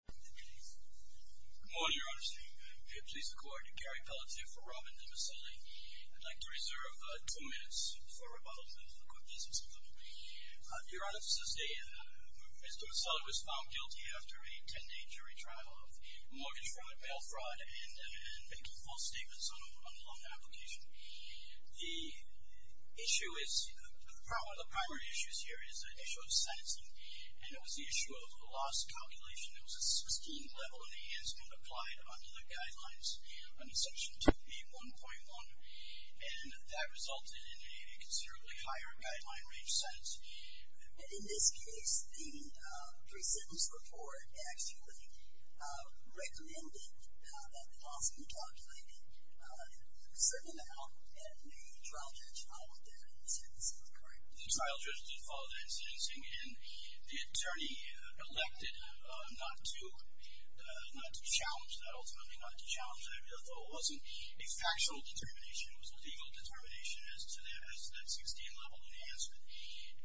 Mr. Dimiceli was found guilty after a 10 day jury trial of mortgage fraud, bail fraud and making false statements on a loan application. The issue is, one of the primary issues here is the issue of sentencing. And it was the issue of loss calculation. It was a sustained level of enhancement applied under the guidelines under section 2B1.1. And that resulted in a considerably higher guideline range sentence. In this case, the pre-sentence report actually recommended that the loss be calculated. Certainly now, the trial judge followed that in sentencing, correct? The trial judge did follow that in sentencing. And the attorney elected not to challenge that ultimately, not to challenge that. So it wasn't a factual determination. It was a legal determination as to that sustained level of enhancement.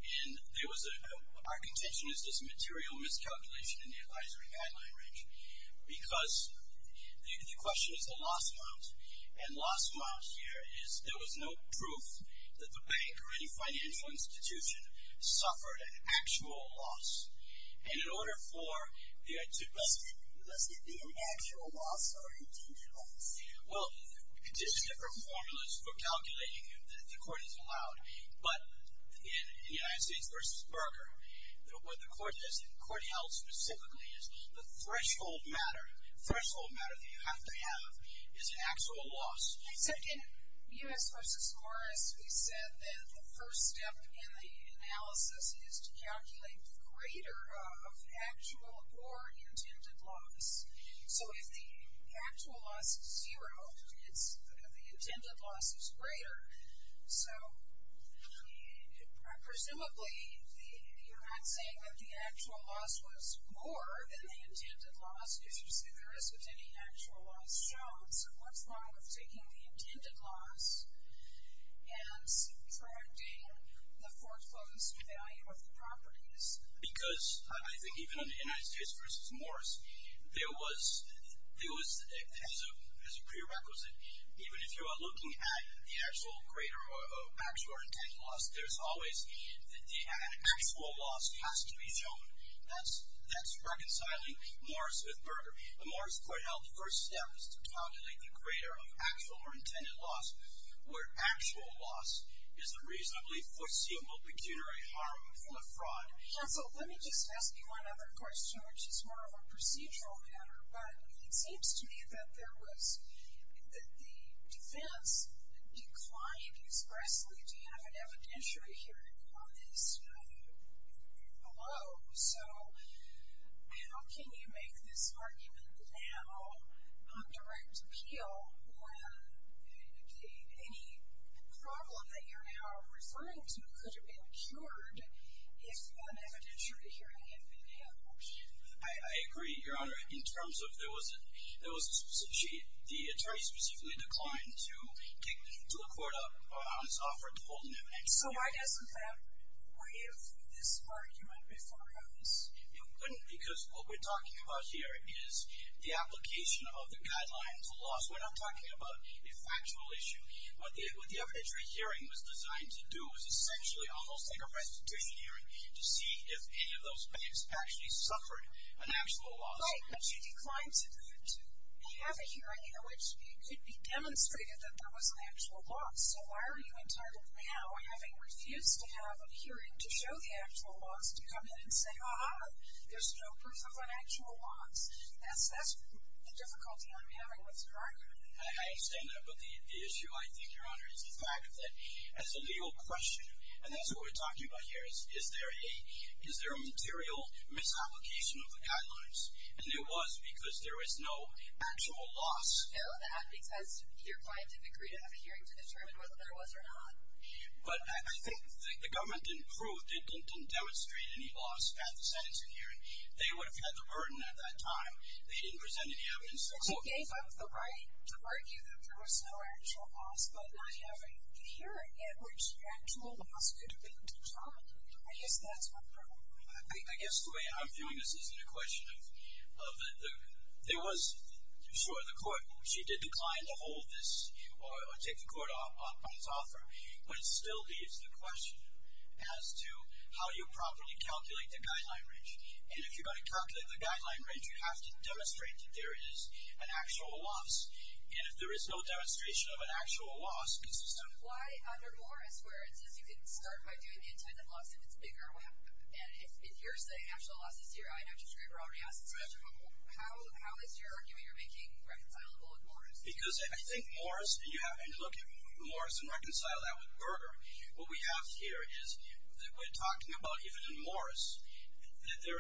And there was a, our contention is this material miscalculation in the advisory guideline range. Because the question is the loss amount. And loss amount here is there was no proof that the bank or any financial institution suffered an actual loss. And in order for there to... Does it be an actual loss or a deemed loss? Well, there's different formulas for calculating that the court has allowed. But in United States v. Berger, what the court held specifically is the threshold matter, the threshold matter that you have to have is an actual loss. So in U.S. v. Morris, we said that the first step in the analysis is to calculate the greater of actual or intended loss. So if the actual loss is zero, the intended loss is greater. So presumably, you're not saying that the actual loss was more than the intended loss if there isn't any actual loss shown. So what's wrong with taking the intended loss and trying to gain the foreclosed value of the properties? Because I think even in the United States v. Morris, there was, as a prerequisite, even if you are looking at the actual greater or actual or intended loss, there's always the actual loss has to be shown. In U.S. v. Morris, the court held the first step was to calculate the greater of actual or intended loss, where actual loss is a reasonably foreseeable pecuniary harm or fraud. Counsel, let me just ask you one other question, which is more of a procedural matter. But it seems to me that there was the defense declined expressly. Do you have an evidentiary hearing on this? Hello. So how can you make this argument now on direct appeal when any problem that you're now referring to could have been cured if an evidentiary hearing had been held? I agree, Your Honor, in terms of there was a specific sheet. The attorney specifically declined to take to the court on his offer to hold an evidence hearing. So why doesn't that waive this argument before it happens? It wouldn't because what we're talking about here is the application of the guidelines of loss. We're not talking about a factual issue. What the evidentiary hearing was designed to do was essentially almost like a restitution hearing to see if any of those banks actually suffered an actual loss. Right. But you declined to have a hearing in which it could be demonstrated that there was an actual loss. So why are you entitled now, having refused to have a hearing to show the actual loss, to come in and say, ah-ha, there's no proof of an actual loss? That's the difficulty I'm having with this argument. I understand that. But the issue, I think, Your Honor, is the fact that as a legal question, and that's what we're talking about here, is there a material misapplication of the guidelines? And there was because there was no actual loss. I know that because your client didn't agree to have a hearing to determine whether there was or not. But I think the government didn't prove, didn't demonstrate any loss at the sentencing hearing. They would have had the burden at that time. They didn't present any evidence. But you gave up the right to argue that there was no actual loss, but not have a hearing in which the actual loss could have been determined. I guess that's my problem. I guess the way I'm viewing this isn't a question of there was, sure, the court. She did decline to hold this or take the court on its offer. But it still leaves the question as to how you properly calculate the guideline range. And if you're going to calculate the guideline range, you have to demonstrate that there is an actual loss. And if there is no demonstration of an actual loss, it's just a- Why under Morris where it says you can start by doing the intended loss if it's bigger? And if you're saying actual loss is zero, I know Judge Graber already asked this question. How is your argument you're making reconcilable with Morris? Because I think Morris, and you have to look at Morris and reconcile that with Berger. What we have here is we're talking about even in Morris that there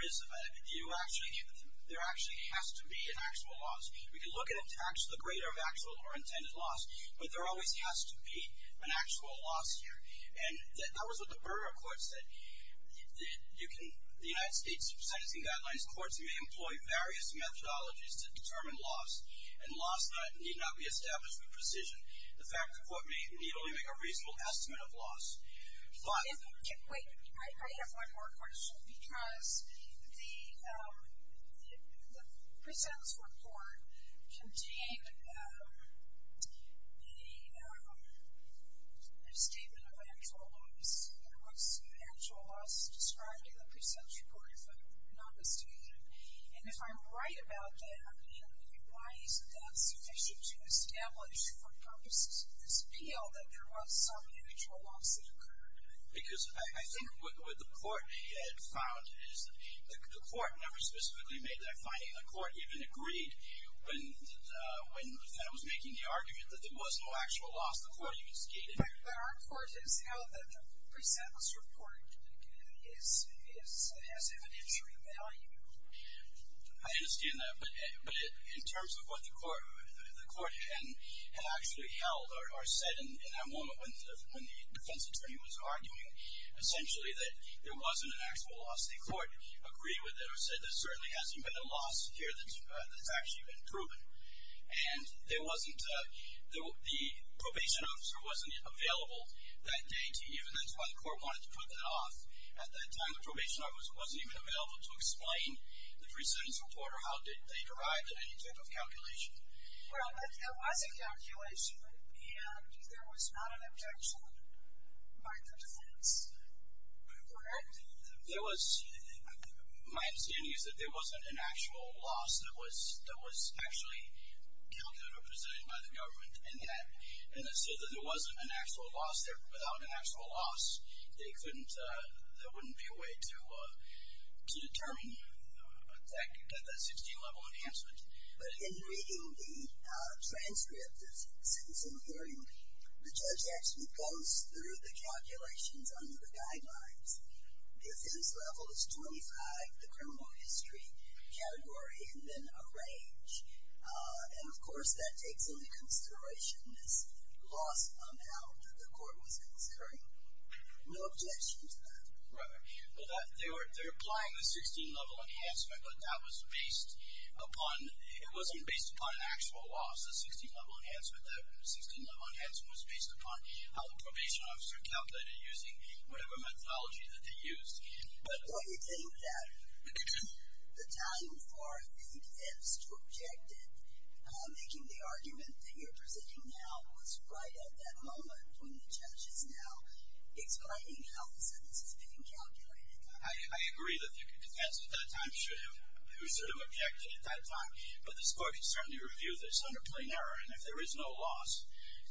actually has to be an actual loss. We can look at it as the greater of actual or intended loss. But there always has to be an actual loss here. And that was what the Berger court said. The United States sentencing guidelines courts may employ various methodologies to determine loss. And loss need not be established with precision. The fact the court may need only make a reasonable estimate of loss. But- The statement of actual loss, there was actual loss described in the pre-sentence report, if I'm not mistaken. And if I'm right about that, why isn't that sufficient to establish for purposes of this appeal that there was some actual loss that occurred? Because I think what the court had found is the court never specifically made that finding. The court even agreed when the defendant was making the argument that there was no actual loss. The court even stated- But our court has held that the pre-sentence report has evidentiary value. I understand that. But in terms of what the court had actually held or said in that moment when the defense attorney was arguing, essentially that there wasn't an actual loss. The court agreed with it or said there certainly hasn't been a loss here that's actually been proven. And there wasn't- the probation officer wasn't available that day to even- that's why the court wanted to put that off. At that time, the probation officer wasn't even available to explain the pre-sentence report or how they derived it in any type of calculation. Well, it was a calculation, and there was not an objection by the defense, correct? There was- my understanding is that there wasn't an actual loss that was actually calculated or presented by the government. And so that there wasn't an actual loss there, without an actual loss, there wouldn't be a way to determine that 16-level enhancement. But in reading the transcript of the sentencing hearing, the judge actually goes through the calculations under the guidelines. The offense level is 25, the criminal history category, and then a range. And, of course, that takes into consideration this loss amount that the court was considering. No objection to that. Right. They're applying the 16-level enhancement, but that was based upon- it wasn't based upon an actual loss. It was a 16-level enhancement. That 16-level enhancement was based upon how the probation officer calculated using whatever methodology that they used. Well, you're saying that the time for the defense to object it, making the argument that you're presenting now was right at that moment when the judge is now explaining how the sentence is being calculated. I agree that the defense at that time should have objected at that time, but the court can certainly review this under plain error, and if there is no loss-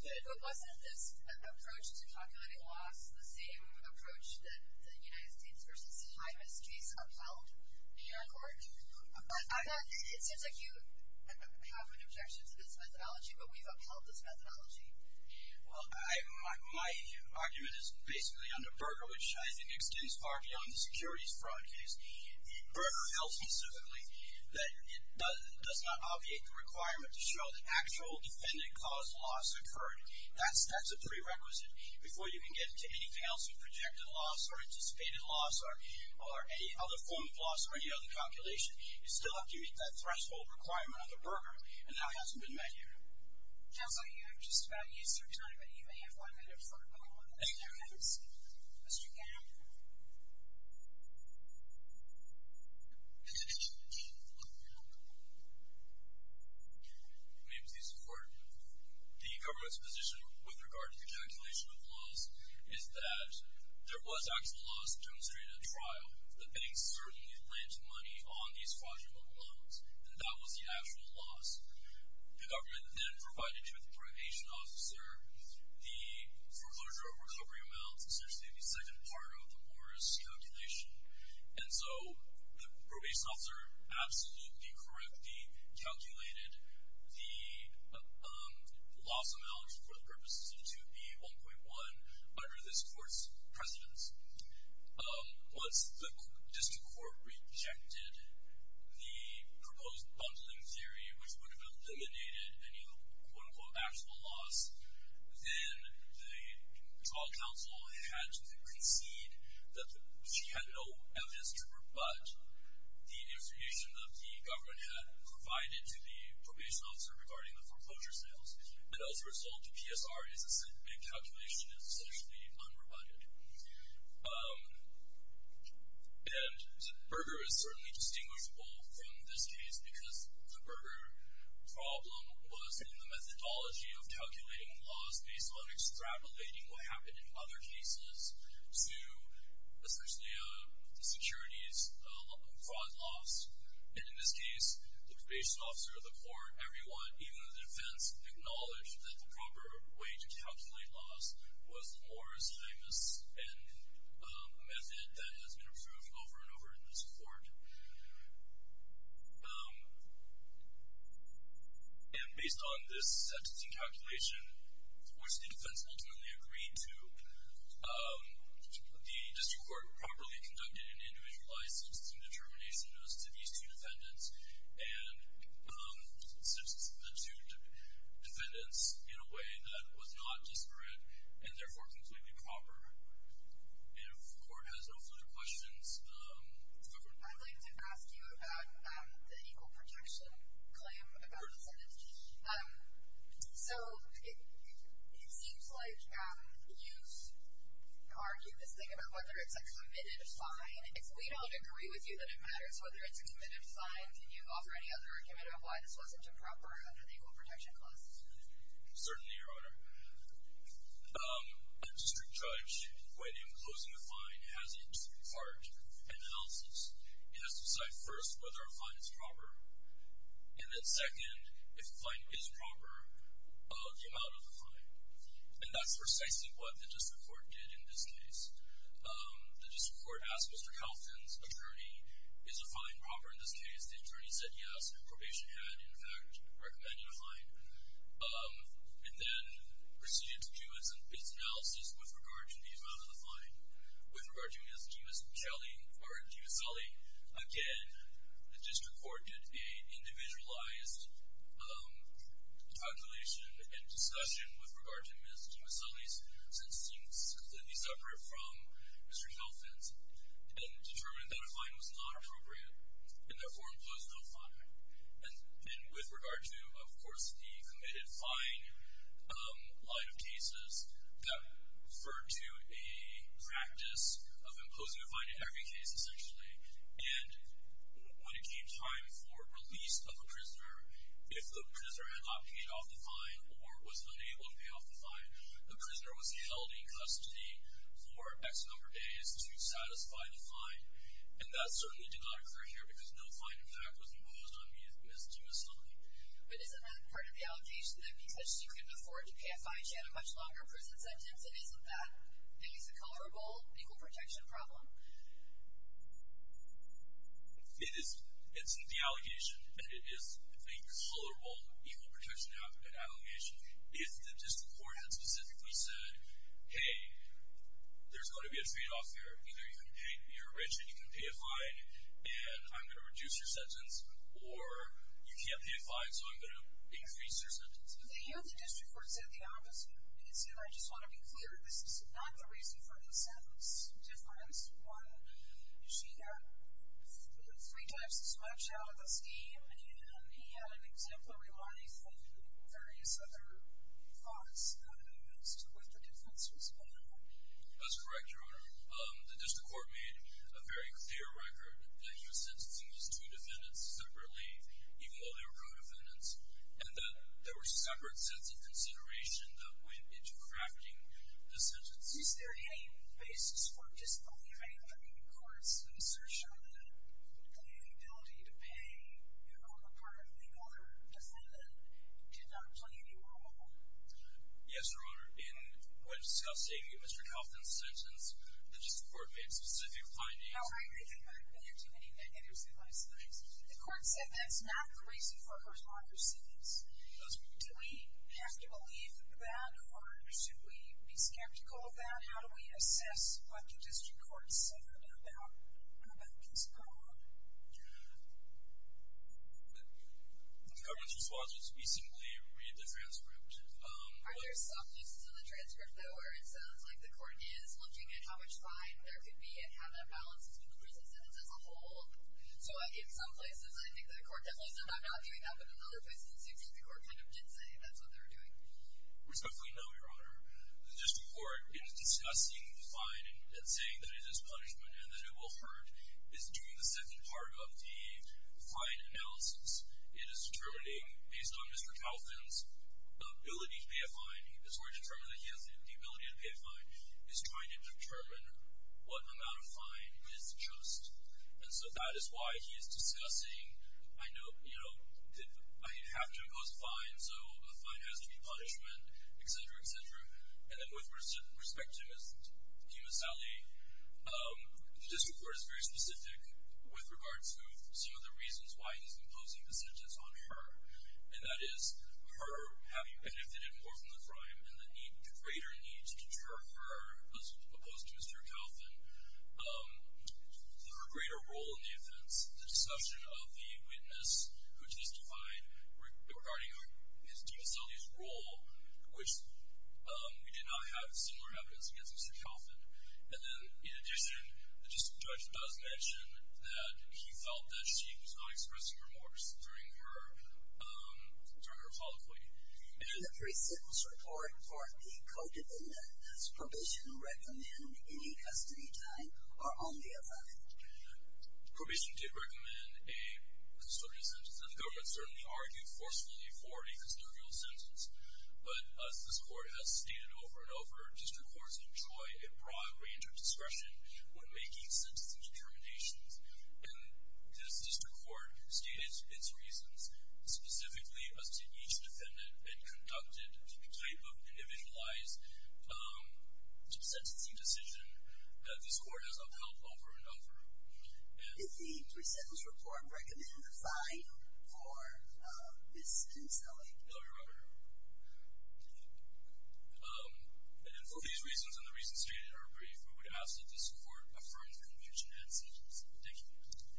But wasn't this approach to calculating loss the same approach that the United States v. Hymas case upheld in your court? It seems like you have an objection to this methodology, but we've upheld this methodology. Well, my argument is basically under Berger, which I think extends far beyond the securities fraud case. Berger held specifically that it does not obviate the requirement to show that actual defendant-caused loss occurred. That's a prerequisite. Before you can get into anything else with projected loss or anticipated loss or any other form of loss or any other calculation, you still have to meet that threshold requirement under Berger, and that hasn't been met yet. It sounds like you have just about used your time, but you may have one minute for a couple of questions. Mr. Gamble? May it please the Court? The government's position with regard to the calculation of loss is that there was actual loss demonstrated at trial. The banks certainly planted money on these fraudulent loans, and that was the actual loss. The government then provided to the probation officer the foreclosure of recovery amounts, essentially the second part of the Morris calculation, and so the probation officer absolutely correctly calculated the loss amount for the purposes of 2B1.1 under this court's precedence. Once the district court rejected the proposed bundling theory, which would have eliminated any, quote, unquote, actual loss, then the trial counsel had to concede that she had no evidence to rebut the information that the government had provided to the probation officer regarding the foreclosure sales, and as a result, the PSR is a big calculation. It's essentially unrebutted. And Berger is certainly distinguishable from this case because the Berger problem was in the methodology of calculating loss based on extrapolating what happened in other cases to essentially the securities fraud loss. And in this case, the probation officer, the court, everyone, even the defense acknowledged that the proper way to calculate loss was Morris' famous method that has been approved over and over in this court. And based on this sentencing calculation, which the defense ultimately agreed to, the district court properly conducted an individualized sentencing determination as to these two defendants and sentenced the two defendants in a way that was not disparate and therefore completely proper. If the court has no further questions, go for it. I'd like to ask you about the equal protection claim about incentives. So it seems like you've argued this thing about whether it's a committed fine. If we don't agree with you that it matters whether it's a committed fine, can you offer any other argument of why this wasn't improper under the equal protection clause? Certainly, Your Honor. A district judge, when closing a fine, has its part in analysis. It has to decide first whether a fine is proper, and then second, if the fine is proper, the amount of the fine. And that's precisely what the district court did in this case. The district court asked Mr. Calton's attorney, is the fine proper in this case? The attorney said yes. Probation had, in fact, recommended a fine. It then proceeded to do its analysis with regard to the amount of the fine. With regard to Ms. Gimaselli, again, the district court did an individualized calculation and discussion with regard to Ms. Gimaselli's and Mr. Calton's and determined that a fine was not appropriate and therefore imposed no fine. And with regard to, of course, the committed fine line of cases, that referred to a practice of imposing a fine in every case, essentially. And when it came time for release of a prisoner, if the prisoner had not paid off the fine or was unable to pay off the fine, the prisoner was held in custody for X number of days to satisfy the fine. And that certainly did not occur here because no fine, in fact, was imposed on Ms. Gimaselli. But isn't that part of the allegation that because she couldn't afford to pay a fine, she had a much longer prison sentence? And isn't that at least a colorable equal protection problem? It is. It's the allegation, and it is a colorable equal protection allegation. If the district court had specifically said, hey, there's going to be a trade-off here. Either you're rich and you can pay a fine, and I'm going to reduce your sentence, or you can't pay a fine, so I'm going to increase your sentence. The district court said the opposite. And I just want to be clear, this is not the reason for the sentence difference. One, she got three times as much out of the scheme, and he had an exemplary life and various other thoughts as to what the difference was going to be. That's correct, Your Honor. The district court made a very clear record that she was sentencing these two defendants separately, even though they were co-defendants. And that there were separate sets of consideration that went into crafting the sentence. Is there any basis for just believing the court's assertion that the ability to pay on the part of the other defendant did not play any role? Yes, Your Honor. In Scott's statement, Mr. Kaufman's sentence, the district court made a specific finding. No, I agree that there are too many negatives in those things. The court said that's not the reason for her longer sentence. Do we have to believe that? Or should we be skeptical of that? And how do we assess what the district court said about the defendant's crime? The government's response was we simply read the transcript. Are there some pieces of the transcript, though, where it sounds like the court is looking at how much fine there could be and how that balances with the prison sentence as a whole? So in some places, I think the court definitely said, I'm not doing that, but in other places, it seems like the court kind of did say that's what they were doing. Respectfully, no, Your Honor. The district court is discussing the fine and saying that it is punishment and that it will hurt. It's doing the second part of the fine analysis. It is determining, based on Mr. Kaufman's ability to pay a fine, it's already determined that he has the ability to pay a fine. It's trying to determine what amount of fine is just. And so that is why he is discussing, I know, you know, I have to impose a fine, so the fine has to be punishment, et cetera, et cetera. And then with respect to Ms. DiMassali, the district court is very specific with regards to some of the reasons why he's imposing the sentence on her, and that is her having benefited more from the crime and the greater need to deter her, as opposed to Mr. Kaufman, her greater role in the offense. The discussion of the witness who testified regarding Ms. DiMassali's role in the crime, which we did not have similar evidence against Mr. Kaufman. And then, in addition, the district judge does mention that he felt that she was not expressing remorse during her colloquy. In the pre-sentence report for the codependent, does probation recommend any custody time or only a fine? Probation did recommend a custodial sentence, and the government certainly argued forcefully for a custodial sentence. But as this court has stated over and over, district courts enjoy a broad range of discretion when making sentencing determinations, and this district court stated its reasons specifically as to each defendant and conducted the type of individualized sentencing decision that this court has upheld over and over. Did the pre-sentence report recommend a fine for Ms. DiMassali? No, Your Honor. And for these reasons and the reasons stated in our brief, we would ask that this court affirm the conviction and sentence. Thank you.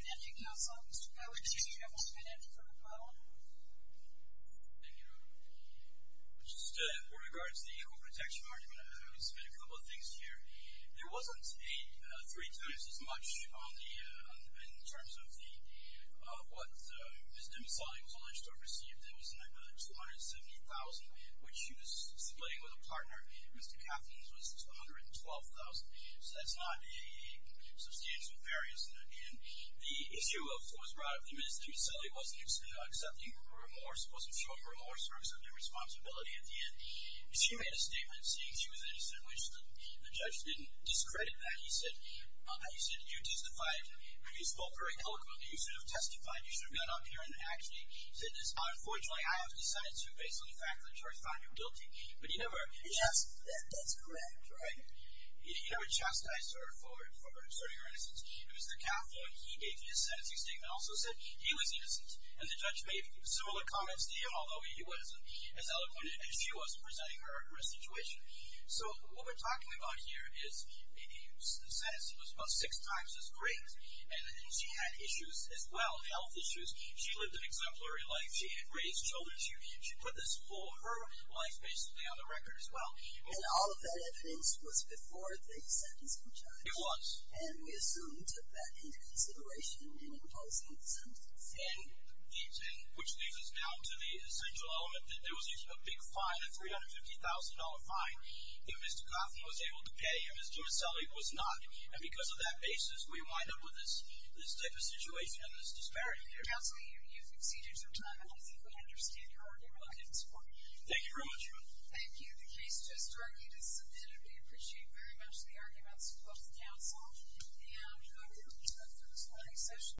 Thank you, counsel. Mr. Kaufman, did you have one minute for a follow-up? Thank you, Your Honor. Just with regards to the equal protection argument, I would submit a couple of things here. There wasn't three times as much in terms of what Ms. DiMassali was alleged to have received. There was another $270,000, which she was splitting with a partner. Mr. Kauffman's was $112,000. So that's not a substantial variance. And the issue was brought up that Ms. DiMassali wasn't accepting remorse, wasn't showing remorse or accepting responsibility at the end. She made a statement saying she was innocent, in which the judge didn't discredit that. He said, you testified. You spoke very eloquently. You should have testified. You should have got up here and actually said this. Unfortunately, I have decided to, based on the fact that the judge found you guilty. But you never. That's correct. Right? You never chastised her for asserting her innocence. Mr. Kauffman, he gave you a sentencing statement, also said he was innocent. And the judge made similar comments to you, although he wasn't as eloquent and she wasn't presenting her in a situation. So what we're talking about here is the sentencing was about six times as great and she had issues as well, health issues. She lived an exemplary life. She had raised children. She put this for her life, basically, on the record as well. And all of that evidence was before the sentencing judge. It was. And we assumed that in consideration in imposing the sentence. And which leads us now to the essential element that there was a big fine, a $350,000 fine, that Mr. Kauffman was able to pay and Ms. Giuselli was not. And because of that basis, we wind up with this type of situation and this disparity here. Counselor, you've exceeded your time, and I think we understand your argument. We'll get in support of it. Thank you very much. Thank you. The case just started. It's submitted. We appreciate very much the arguments of both counsel. And we hope that we'll see you back for this morning's session.